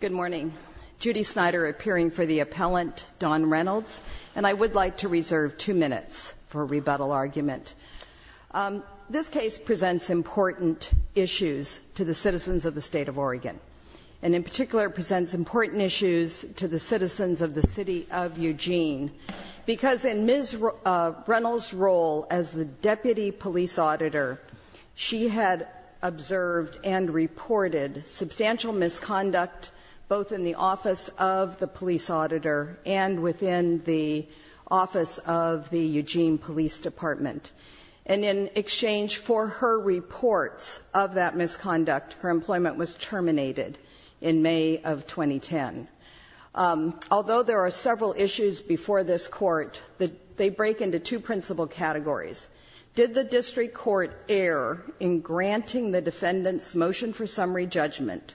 Good morning. Judy Snyder appearing for the appellant, Dawn Reynolds, and I would like to reserve two minutes for rebuttal argument. This case presents important issues to the citizens of the state of Oregon. And in particular presents important issues to the citizens of the City of Eugene. Because in Ms. Reynolds' role as the Deputy Police Auditor, she had observed and reported substantial misconduct both in the office of the Police Auditor and within the office of the Eugene Police Department. And in exchange for her reports of that misconduct, her employment was terminated in May of 2010. Although there are several issues before this Court, they break into two principal categories. Did the district court err in granting the defendant's motion for summary judgment,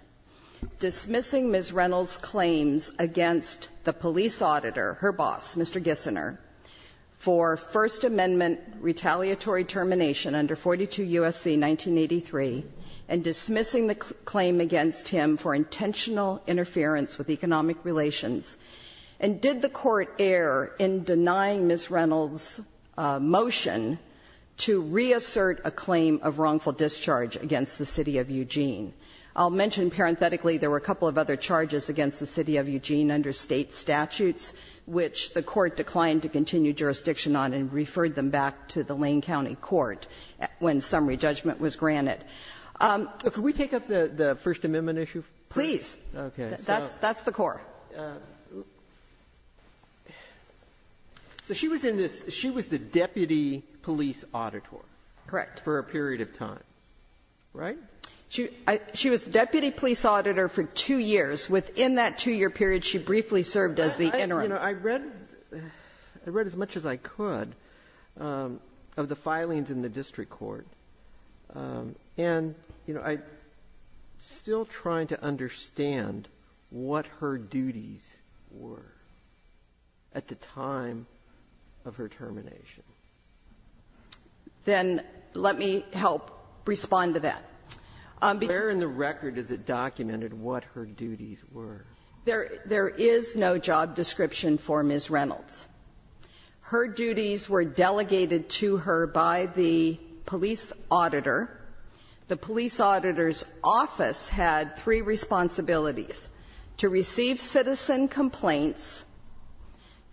dismissing Ms. Reynolds' claims against the Police Auditor, her boss, Mr. Gissiner, for First Amendment retaliatory termination under 42 U.S.C. 1983, and dismissing a claim against him for intentional interference with economic relations? And did the Court err in denying Ms. Reynolds' motion to reassert a claim of wrongful discharge against the City of Eugene? I'll mention parenthetically there were a couple of other charges against the City of Eugene under State statutes, which the Court declined to continue jurisdiction on and referred them back to the Lane County Court when summary judgment was granted. So could we take up the First Amendment issue? Please. Okay. That's the core. So she was in this – she was the Deputy Police Auditor. Correct. For a period of time, right? She was the Deputy Police Auditor for two years. Within that two-year period, she briefly served as the interim. I read as much as I could of the filings in the district court, and I'm still trying to understand what her duties were at the time of her termination. Then let me help respond to that. Where in the record is it documented what her duties were? There is no job description for Ms. Reynolds. Her duties were delegated to her by the police auditor. The police auditor's office had three responsibilities, to receive citizen complaints,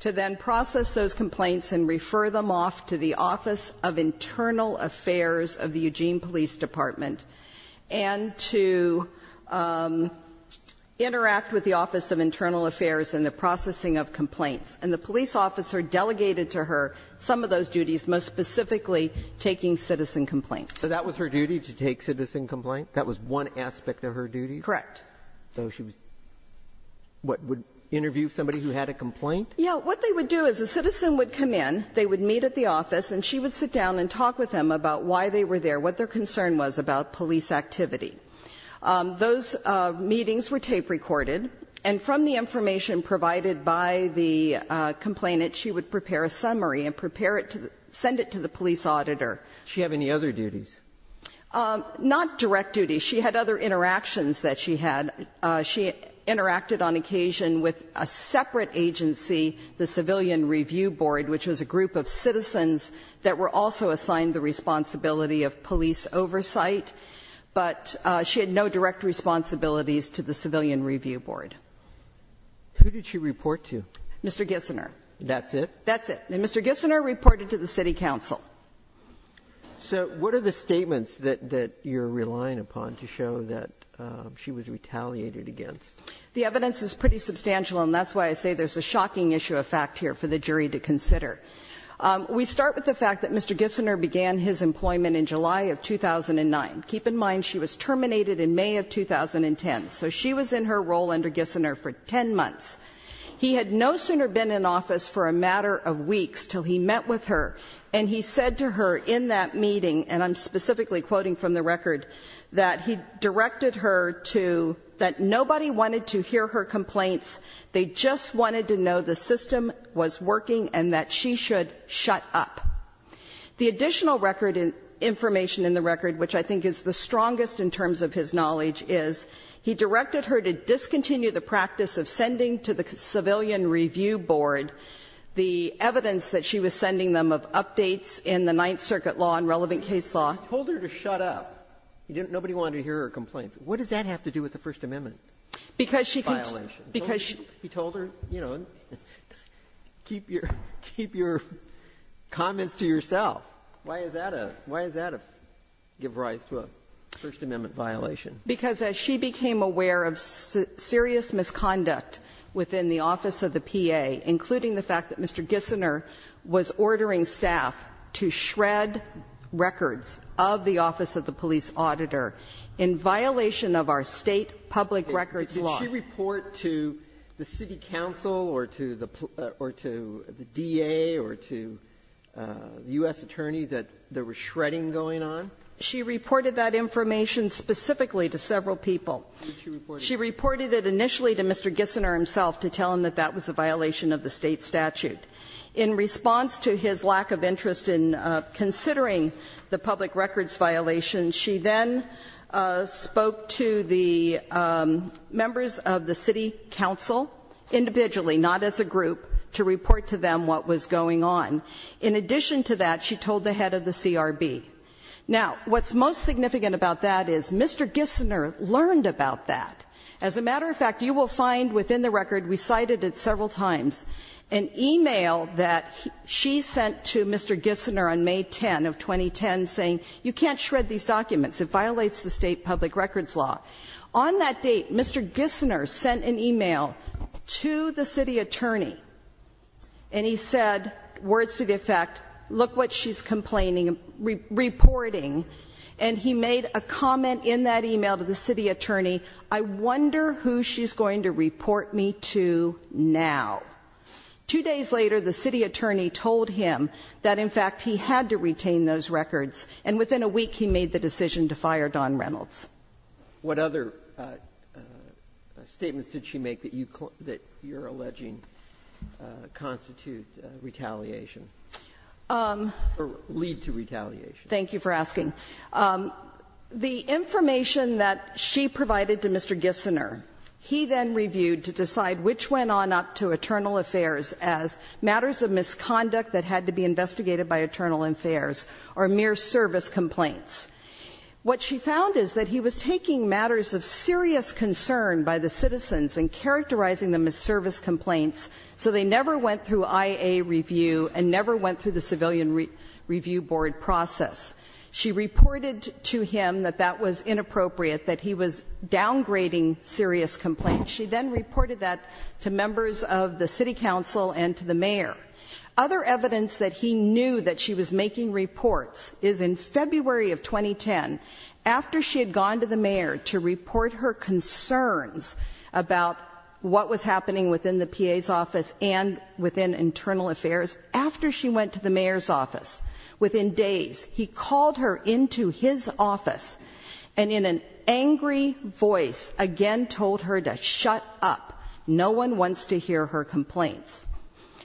to then process those complaints and refer them off to the Office of Internal Affairs in the processing of complaints. And the police officer delegated to her some of those duties, most specifically taking citizen complaints. So that was her duty, to take citizen complaints? That was one aspect of her duty? Correct. So she was – what, would interview somebody who had a complaint? Yes. What they would do is a citizen would come in, they would meet at the office, and she would sit down and talk with them about why they were there, what their concern was about police activity. Those meetings were tape recorded. And from the information provided by the complainant, she would prepare a summary and prepare it to – send it to the police auditor. Does she have any other duties? Not direct duties. She had other interactions that she had. She interacted on occasion with a separate agency, the Civilian Review Board, which was a group of citizens that were also assigned the responsibility of police oversight. But she had no direct responsibilities to the Civilian Review Board. Who did she report to? Mr. Gissiner. That's it? That's it. And Mr. Gissiner reported to the city council. So what are the statements that you're relying upon to show that she was retaliated against? The evidence is pretty substantial, and that's why I say there's a shocking issue of fact here for the jury to consider. We start with the fact that Mr. Gissiner began his employment in July of 2009. Keep in mind, she was terminated in May of 2010. So she was in her role under Gissiner for 10 months. He had no sooner been in office for a matter of weeks till he met with her. And he said to her in that meeting, and I'm specifically quoting from the record, that he directed her to – that nobody wanted to hear her complaints. They just wanted to know the system was working and that she should shut up. The additional record and information in the record, which I think is the strongest in terms of his knowledge, is he directed her to discontinue the practice of sending to the Civilian Review Board the evidence that she was sending them of updates in the Ninth Circuit law and relevant case law. He told her to shut up. Nobody wanted to hear her complaints. What does that have to do with the First Amendment violation? He told her, you know, keep your comments to yourself. Why does that give rise to a First Amendment violation? Because as she became aware of serious misconduct within the office of the PA, including the fact that Mr. Gissiner was ordering staff to shred records of the public records law. Did she report to the city council or to the DA or to the U.S. attorney that there was shredding going on? She reported that information specifically to several people. She reported it initially to Mr. Gissiner himself to tell him that that was a violation of the State statute. In response to his lack of interest in considering the public records violation, she then spoke to the members of the city council individually, not as a group, to report to them what was going on. In addition to that, she told the head of the CRB. Now, what's most significant about that is Mr. Gissiner learned about that. As a matter of fact, you will find within the record, we cited it several times, an e-mail that she sent to Mr. Gissiner on May 10 of 2010 saying, you can't shred these documents. It violates the state public records law. On that date, Mr. Gissiner sent an e-mail to the city attorney and he said, words to the effect, look what she's complaining, reporting. And he made a comment in that e-mail to the city attorney, I wonder who she's going to report me to now. Two days later, the city attorney told him that, in fact, he had to retain those records. And within a week, he made the decision to fire Don Reynolds. What other statements did she make that you're alleging constitute retaliation or lead to retaliation? Thank you for asking. The information that she provided to Mr. Gissiner, he then reviewed to decide which went on up to Eternal Affairs as matters of misconduct that had to be investigated by Eternal Affairs or mere service complaints. What she found is that he was taking matters of serious concern by the citizens and characterizing them as service complaints so they never went through IA review and never went through the civilian review board process. She reported to him that that was inappropriate, that he was downgrading serious complaints. She then reported that to members of the city council and to the mayor. Other evidence that he knew that she was making reports is in February of 2010, after she had gone to the mayor to report her concerns about what was happening within the PA's office and within Eternal Affairs, after she went to the mayor's office, within days, he called her into his office and in an angry voice again told her to shut up. No one wants to hear her complaints.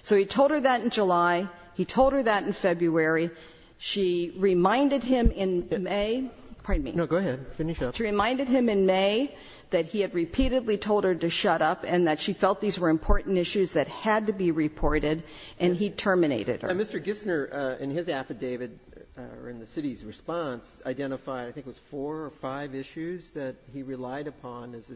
So he told her that in July. He told her that in February. She reminded him in May. Pardon me. No, go ahead. Finish up. She reminded him in May that he had repeatedly told her to shut up and that she felt these were important issues that had to be reported, and he terminated her. Mr. Gissiner, in his affidavit or in the city's response, identified I think it was four or five issues that he relied upon as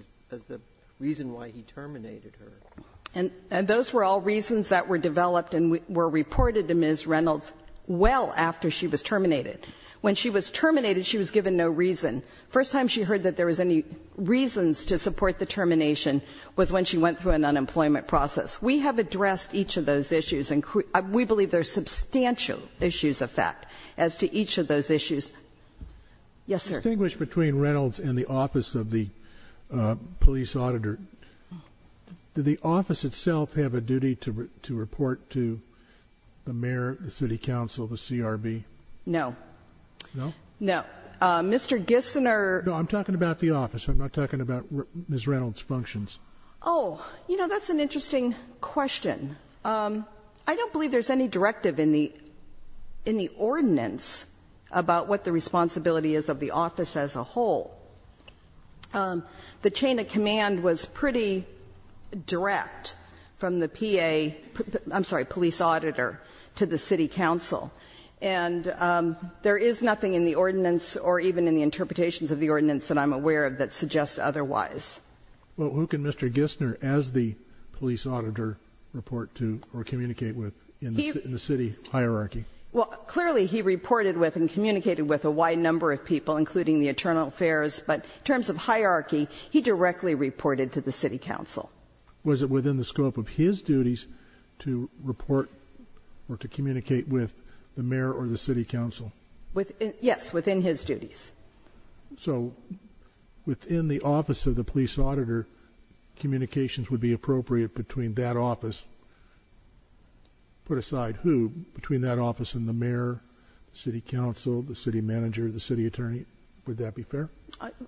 the reason why he terminated her. And those were all reasons that were developed and were reported to Ms. Reynolds well after she was terminated. When she was terminated, she was given no reason. The first time she heard that there was any reasons to support the termination was when she went through an unemployment process. We have addressed each of those issues, and we believe there are substantial issues of fact as to each of those issues. Yes, sir. Distinguished between Reynolds and the office of the police auditor, did the office itself have a duty to report to the mayor, the city council, the CRB? No. No? No. Mr. Gissiner No, I'm talking about the office. I'm not talking about Ms. Reynolds' functions. Oh, you know, that's an interesting question. I don't believe there's any directive in the ordinance about what the responsibility is of the office as a whole. The chain of command was pretty direct from the PA, I'm sorry, police auditor to the city council. And there is nothing in the ordinance or even in the interpretations of the ordinance that I'm aware of that suggest otherwise. Well, who can Mr. Gissiner as the police auditor report to or communicate with in the city hierarchy? Well, clearly he reported with and communicated with a wide number of people, including the internal affairs, but in terms of hierarchy, he directly reported to the city council. Was it within the scope of his duties to report or to communicate with the mayor or the city council? Yes, within his duties. So within the office of the police auditor, communications would be appropriate between that office. Put aside who, between that office and the mayor, city council, the city manager, the city attorney, would that be fair?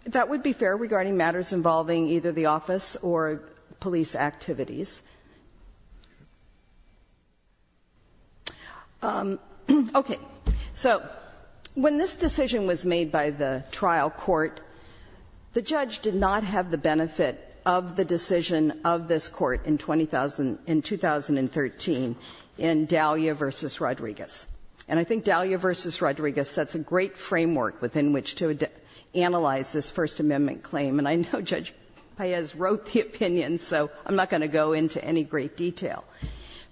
That would be fair regarding matters involving either the office or police activities. Okay. So when this decision was made by the trial court, the judge did not have the benefit of the decision of this court in 20,000, in 2013 in Dalia v. Rodriguez. And I think Dalia v. Rodriguez sets a great framework within which to analyze this First Amendment claim. And I know Judge Paez wrote the opinion, so I'm not going to go into any great detail.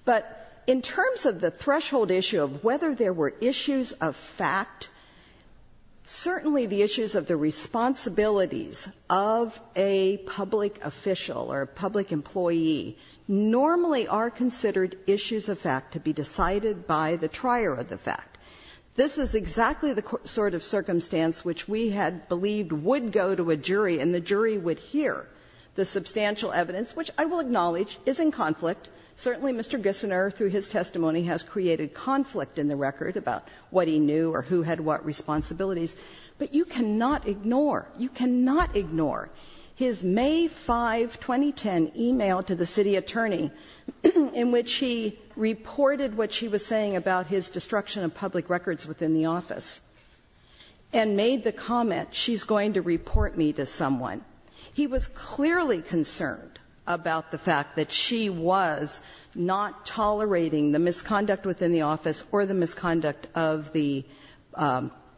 But in terms of the threshold issue of whether there were issues of fact, certainly the issues of the responsibilities of a public official or a public employee normally are considered issues of fact to be decided by the trier of the fact. This is exactly the sort of circumstance which we had believed would go to a jury and the jury would hear the substantial evidence, which I will acknowledge is in conflict. Certainly Mr. Gissiner, through his testimony, has created conflict in the record about what he knew or who had what responsibilities. But you cannot ignore, you cannot ignore his May 5, 2010, email to the city attorney in which he reported what she was saying about his destruction of public records within the office, and made the comment, she's going to report me to someone. He was clearly concerned about the fact that she was not tolerating the misconduct within the office or the misconduct of the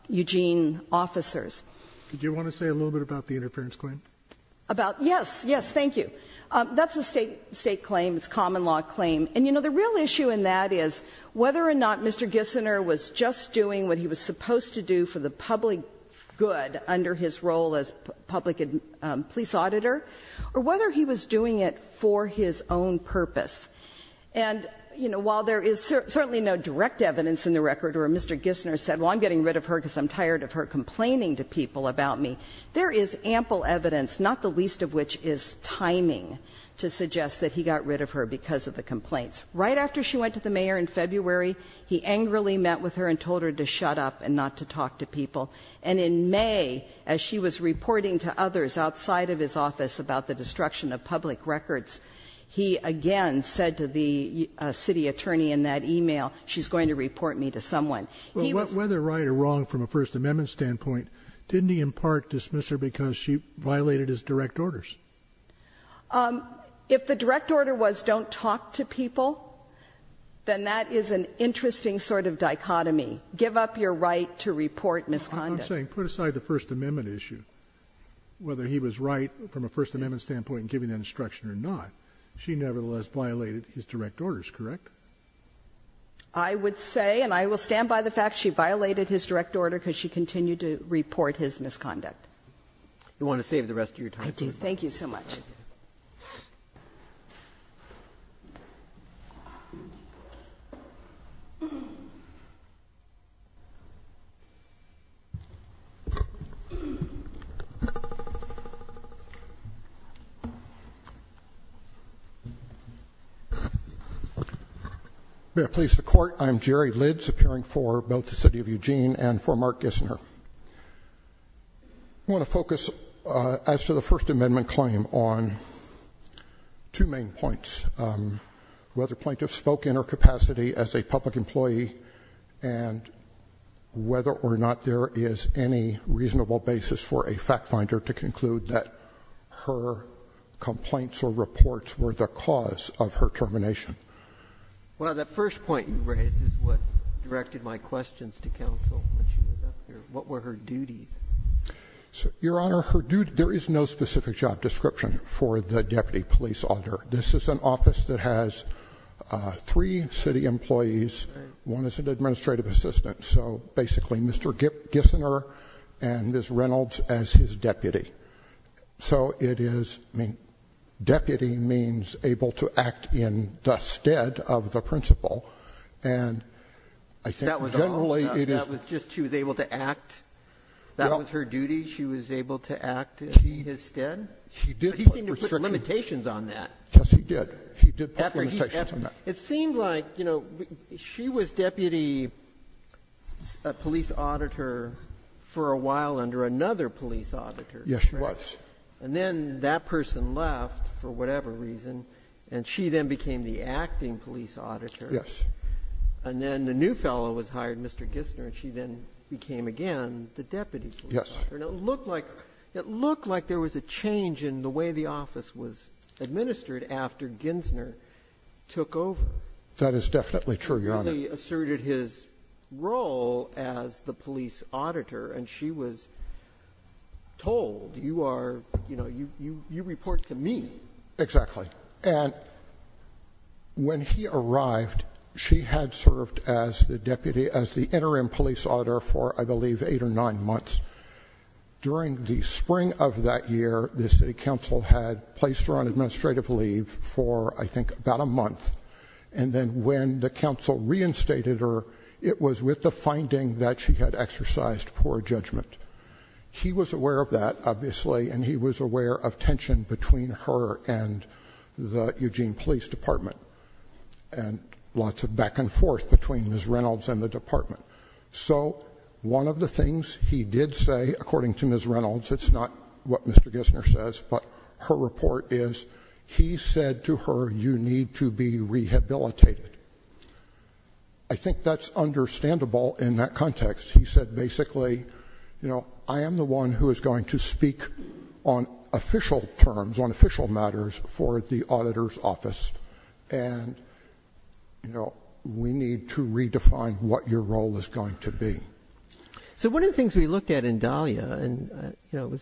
Eugene officers. Did you want to say a little bit about the interference claim? About yes, yes, thank you. That's a State claim. It's a common law claim. And, you know, the real issue in that is whether or not Mr. Gissiner was just doing what he was supposed to do for the public good under his role as public police auditor, or whether he was doing it for his own purpose. And, you know, while there is certainly no direct evidence in the record where Mr. Gissiner said, well, I'm getting rid of her because I'm tired of her complaining to people about me, there is ample evidence, not the least of which is timing, to suggest that he got rid of her because of the complaints. Right after she went to the mayor in February, he angrily met with her and told her to shut up and not to talk to people. And in May, as she was reporting to others outside of his office about the destruction of public records, he again said to the city attorney in that e-mail, she's going to report me to someone. He was Well, whether right or wrong from a First Amendment standpoint, didn't he in part dismiss her because she violated his direct orders? If the direct order was don't talk to people, then that is an interesting sort of dichotomy. Give up your right to report misconduct. I'm saying put aside the First Amendment issue, whether he was right from a First Amendment standpoint in giving that instruction or not. She nevertheless violated his direct orders, correct? I would say, and I will stand by the fact she violated his direct order because she continued to report his misconduct. You want to save the rest of your time? I do. Thank you so much. May I please the court? I'm Jerry Lidge, appearing for both the city of Eugene and for Mark Gissner. I want to focus, as to the First Amendment claim, on two main points, whether plaintiff spoke in her capacity as a public employee and whether or not there is any reasonable basis for a fact finder to conclude that her complaints or reports were the cause of her termination. Well, the first point you raised is what directed my questions to counsel when she was up here. What were her duties? Your Honor, there is no specific job description for the deputy police auditor. This is an office that has three city employees. One is an administrative assistant. So basically Mr. Gissner and Ms. Reynolds as his deputy. So it is, I mean, deputy means able to act in the stead of the principal. And I think generally it is... That was all? That was just she was able to act? That was her duty? She was able to act in his stead? He did put restrictions... But he seemed to put limitations on that. Yes, he did. He did put limitations on that. It seemed like, you know, she was deputy police auditor for a while under another police auditor. Yes, she was. And then that person left for whatever reason, and she then became the acting police auditor. Yes. And then the new fellow was hired, Mr. Gissner, and she then became again the deputy police auditor. Yes. And it looked like there was a change in the way the office was administered after Gissner took over. That is definitely true, Your Honor. He really asserted his role as the police auditor, and she was told, you are, you know, you report to me. Exactly. And when he arrived, she had served as the deputy, as the interim police auditor for, I believe, eight or nine months. During the spring of that year, the city council had placed her on administrative leave for, I think, about a month. And then when the council reinstated her, it was with the finding that she had exercised poor judgment. He was aware of that, obviously, and he was aware of tension between her and the Eugene Police Department and lots of back and forth between Ms. Reynolds and the department. So one of the things he did say, according to Ms. Reynolds, it's not what Mr. Gissner says, but her report is, he said to her, you need to be rehabilitated. I think that's understandable in that context. He said, basically, you know, I am the one who is going to speak on official matters for the auditor's office, and, you know, we need to redefine what your role is going to be. So one of the things we looked at in Dahlia, and, you know,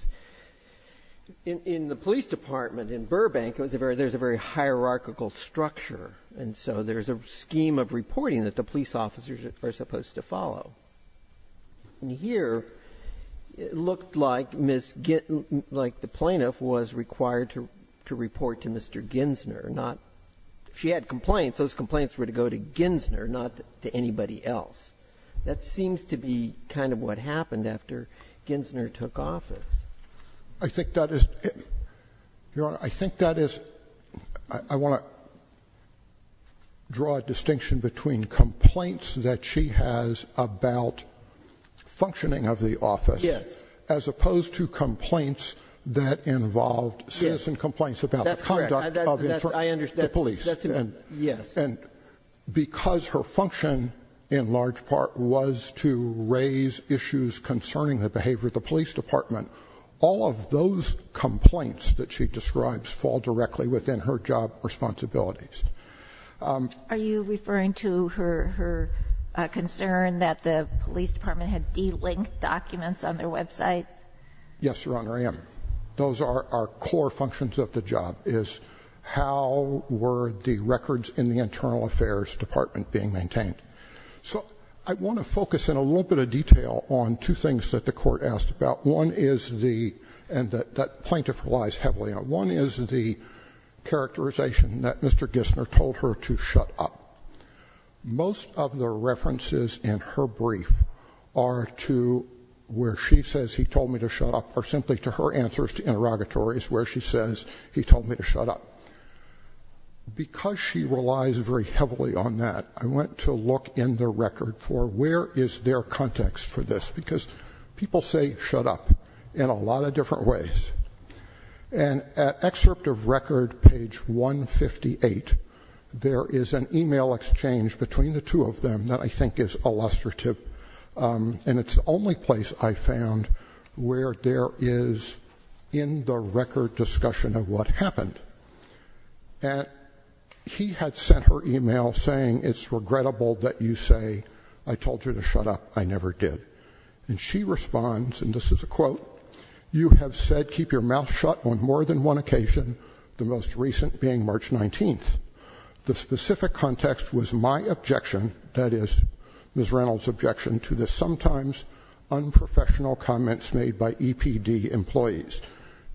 in the police department in Burbank, there's a very hierarchical structure, and so there's a scheme of reporting that the police officers are supposed to follow. And here, it looked like Ms. Gittin, like the plaintiff, was required to report to Mr. Gissner, not, if she had complaints, those complaints were to go to Gissner, not to anybody else. That seems to be kind of what happened after Gissner took office. I think that is, Your Honor, I think that is, I want to draw a distinction between complaints that she has about functioning of the office, as opposed to complaints that involved citizen complaints about the conduct of the police. And because her function, in large part, was to raise issues concerning the behavior of the police department, all of those complaints that she describes fall directly within her job responsibilities. Are you referring to her concern that the police department had de-linked documents on their website? Yes, Your Honor, I am. Those are core functions of the job, is how were the records in the internal affairs department being maintained. So I want to focus in a little bit of detail on two things that the Court asked about. One is the, and that plaintiff relies heavily on, one is the characterization that Mr. Gissner told her to shut up. Most of the references in her brief are to where she says he told me to shut up, or simply to her answers to interrogatories where she says he told me to shut up. Because she relies very heavily on that, I want to look in the record for where is their context for this, because people say shut up in a lot of different ways. And at excerpt of record page 158, there is an email exchange between the two of them that I think is illustrative, and it's the only place I found where there is in the record discussion of what happened. And he had sent her email saying it's regrettable that you say I told you to shut up, I never did. And she responds, and this is a quote, you have said keep your mouth shut on more than one occasion, the most recent being March 19th. The specific context was my objection, that is Ms. Reynolds' objection to the sometimes unprofessional comments made by EPD employees.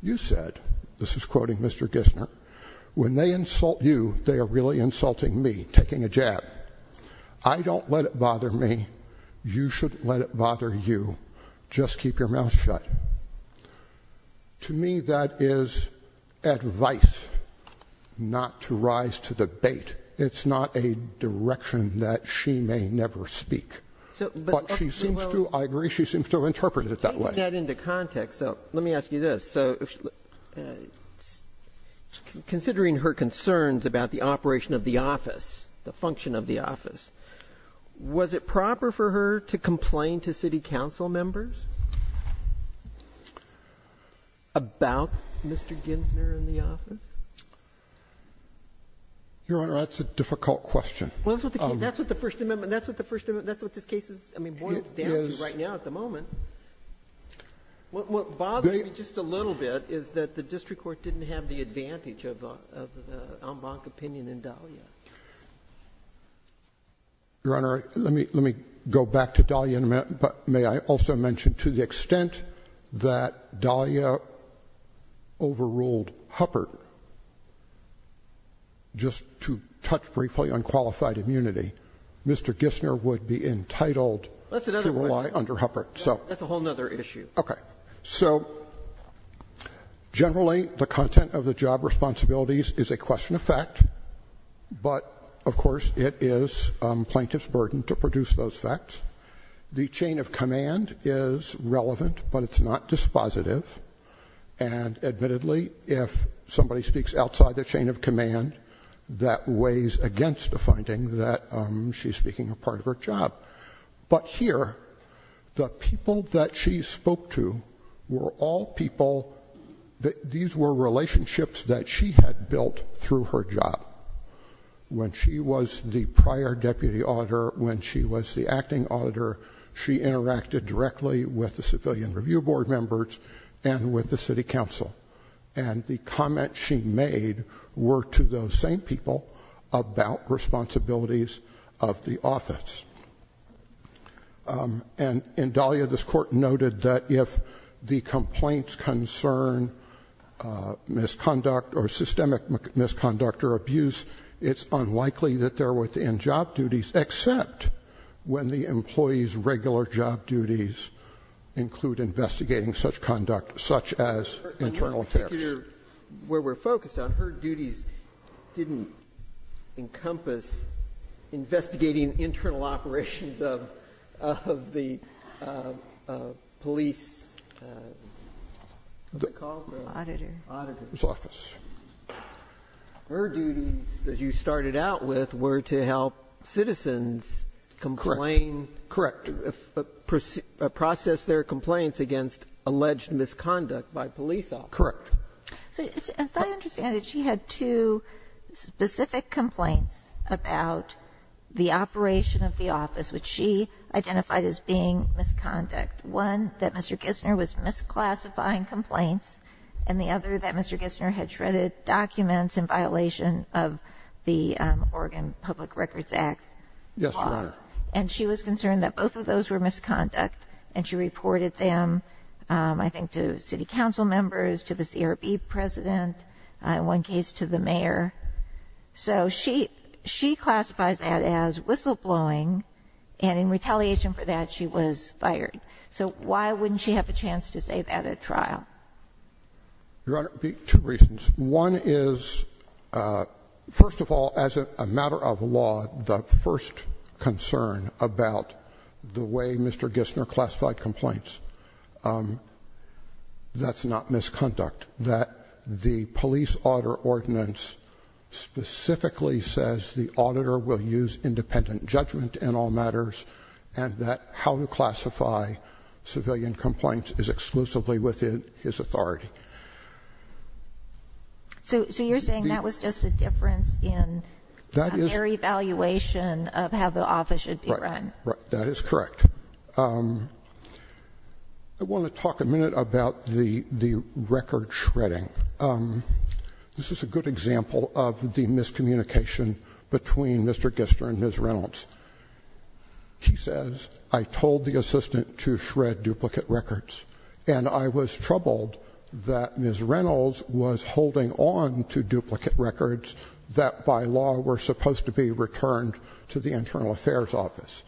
You said, this is quoting Mr. Gissner, when they insult you, they are really insulting me, taking a jab. I don't let it bother me, you shouldn't let it bother you, just keep your mouth shut. To me, that is advice not to rise to the bait. It's not a direction that she may never speak. But she seems to, I agree, she seems to interpret it that way. Take that into context, so let me ask you this. So considering her concerns about the operation of the office, the function of the office, was it proper for her to complain to city council members about Mr. Gissner and the office? Your Honor, that's a difficult question. Well, that's what the First Amendment, that's what this case is, I mean, what it's down to right now at the moment. What bothers me just a little bit is that the district court didn't have the Your Honor, let me go back to Dahlia in a minute, but may I also mention to the extent that Dahlia overruled Huppert, just to touch briefly on qualified immunity, Mr. Gissner would be entitled to rely under Huppert, so. That's another question. That's a whole other issue. Okay. So generally the content of the job responsibilities is a question of fact, but of course it is plaintiff's burden to produce those facts. The chain of command is relevant, but it's not dispositive. And admittedly, if somebody speaks outside the chain of command, that weighs against the finding that she's speaking a part of her job. But here, the people that she spoke to were all people, these were relationships that she had built through her job. When she was the prior deputy auditor, when she was the acting auditor, she interacted directly with the civilian review board members and with the city council. And the comments she made were to those same people about responsibilities of the office. And in Dahlia, this court noted that if the complaints concern misconduct or abuse, it's unlikely that they're within job duties, except when the employee's regular job duties include investigating such conduct, such as internal affairs. Where we're focused on, her duties didn't encompass investigating internal operations of the police auditor's office. Her duties, as you started out with, were to help citizens complain. Correct. Process their complaints against alleged misconduct by police officers. Correct. So as I understand it, she had two specific complaints about the operation of the office, which she identified as being misconduct. One, that Mr. Gissner was misclassifying complaints. And the other, that Mr. Gissner had shredded documents in violation of the Oregon Public Records Act. Yes, Your Honor. And she was concerned that both of those were misconduct. And she reported them, I think, to city council members, to the CRB president, in one case to the mayor. So she classifies that as whistleblowing. And in retaliation for that, she was fired. So why wouldn't she have a chance to say that at trial? Your Honor, two reasons. One is, first of all, as a matter of law, the first concern about the way Mr. Gissner classified complaints, that's not misconduct. That the police auditor ordinance specifically says the auditor will use independent judgment in all matters, and that how to classify civilian complaints is exclusively within his authority. So you're saying that was just a difference in their evaluation of how the office should be run? Right. That is correct. I want to talk a minute about the record shredding. This is a good example of the miscommunication between Mr. Gissner and Ms. Reynolds. He says, I told the assistant to shred duplicate records. And I was troubled that Ms. Reynolds was holding on to duplicate records that, by law, were supposed to be returned to the Internal Affairs Office.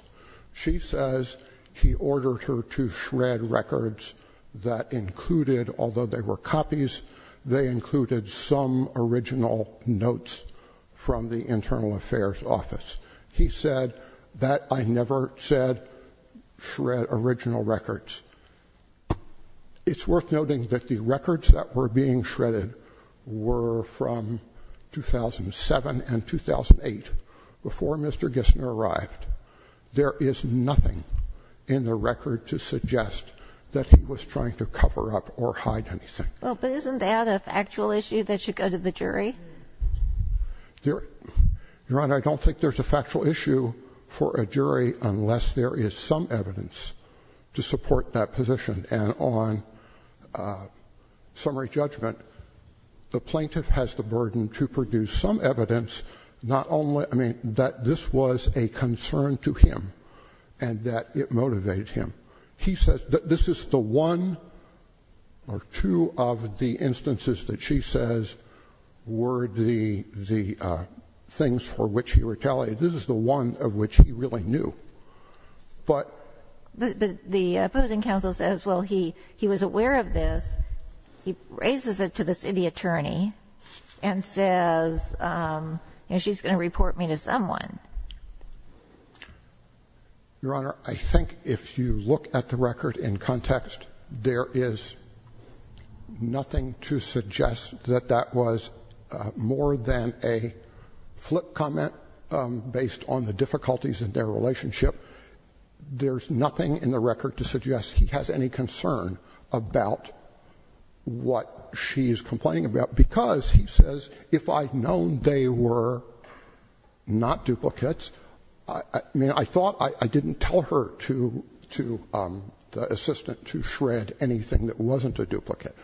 She says he ordered her to shred records that included, although they were copies, they included some original notes from the Internal Affairs Office. He said that I never said shred original records. It's worth noting that the records that were being shredded were from 2007 and 2008, before Mr. Gissner arrived. There is nothing in the record to suggest that he was trying to cover up or hide anything. Well, but isn't that a factual issue that should go to the jury? Your Honor, I don't think there's a factual issue for a jury unless there is some evidence to support that position. And on summary judgment, the plaintiff has the burden to produce some evidence, not only that this was a concern to him and that it motivated him. He says that this is the one or two of the instances that she says were the things for which he retaliated. This is the one of which he really knew. But the opposing counsel says, well, he was aware of this. He raises it to the city attorney and says, you know, she's going to report me to someone. Your Honor, I think if you look at the record in context, there is nothing to suggest that that was more than a flip comment based on the difficulties in their relationship. There's nothing in the record to suggest he has any concern about what she is complaining about, because he says, if I'd known they were not duplicates, I mean, I thought I didn't tell her to, to the assistant to shred anything that wasn't a duplicate.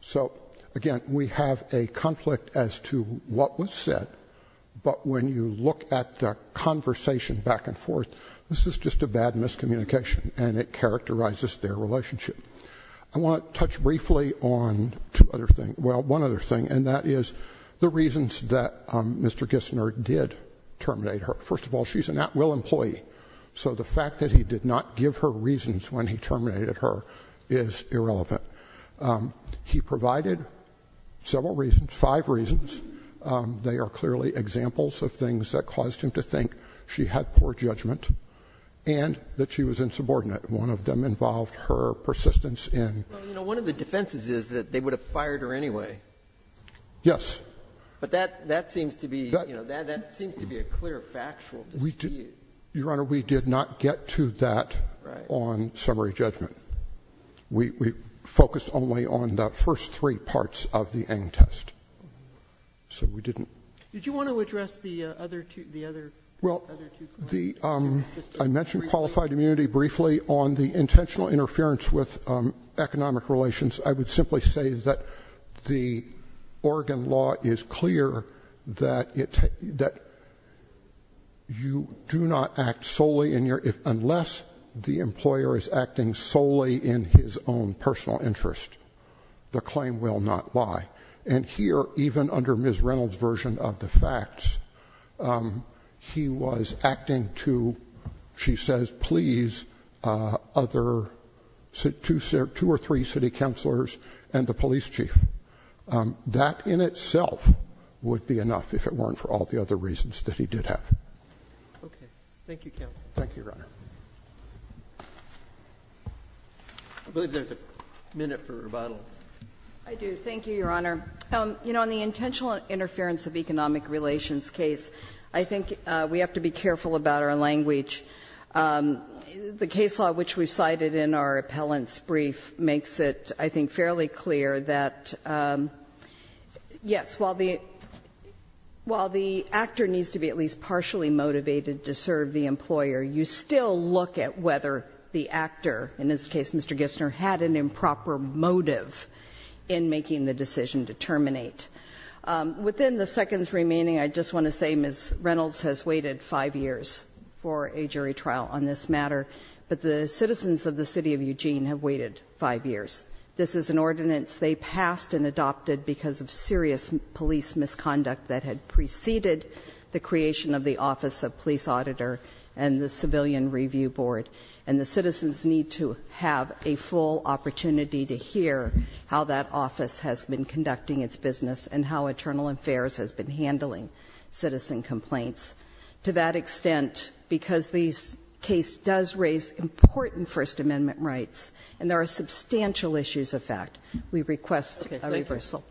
So, again, we have a conflict as to what was said, but when you look at the conversation back and forth, this is just a bad miscommunication and it characterizes their relationship. I want to touch briefly on two other things. Well, one other thing, and that is the reasons that Mr. Gissner did terminate her. First of all, she's an at-will employee, so the fact that he did not give her reasons when he terminated her is irrelevant. He provided several reasons, five reasons. They are clearly examples of things that caused him to think she had poor judgment and that she was insubordinate. One of them involved her persistence in ---- Well, you know, one of the defenses is that they would have fired her anyway. Yes. But that seems to be, you know, that seems to be a clear factual dispute. Your Honor, we did not get to that on summary judgment. We focused only on the first three parts of the Eng test. So we didn't ---- Did you want to address the other two points? I mentioned qualified immunity briefly. On the intentional interference with economic relations, I would simply say that the Oregon law is clear that you do not act solely in your ---- unless the employer is acting solely in his own personal interest, the claim will not lie. And here, even under Ms. Reynolds' version of the facts, he was acting to, she says, please, other two or three city counselors and the police chief. That in itself would be enough if it weren't for all the other reasons that he did have. Okay. Thank you, counsel. Thank you, Your Honor. I believe there's a minute for rebuttal. I do. Thank you, Your Honor. You know, on the intentional interference of economic relations case, I think we have to be careful about our language. The case law which we cited in our appellant's brief makes it, I think, fairly clear that, yes, while the actor needs to be at least partially motivated to serve the employer, you still look at whether the actor, in this case Mr. Gissner, had an interest in the decision to terminate. Within the seconds remaining, I just want to say Ms. Reynolds has waited five years for a jury trial on this matter, but the citizens of the City of Eugene have waited five years. This is an ordinance they passed and adopted because of serious police misconduct that had preceded the creation of the Office of Police Auditor and the Civilian Review Board. And the citizens need to have a full opportunity to hear how that office has been conducting its business and how Internal Affairs has been handling citizen complaints. To that extent, because this case does raise important First Amendment rights and there are substantial issues of fact, we request a reversal. Thank you.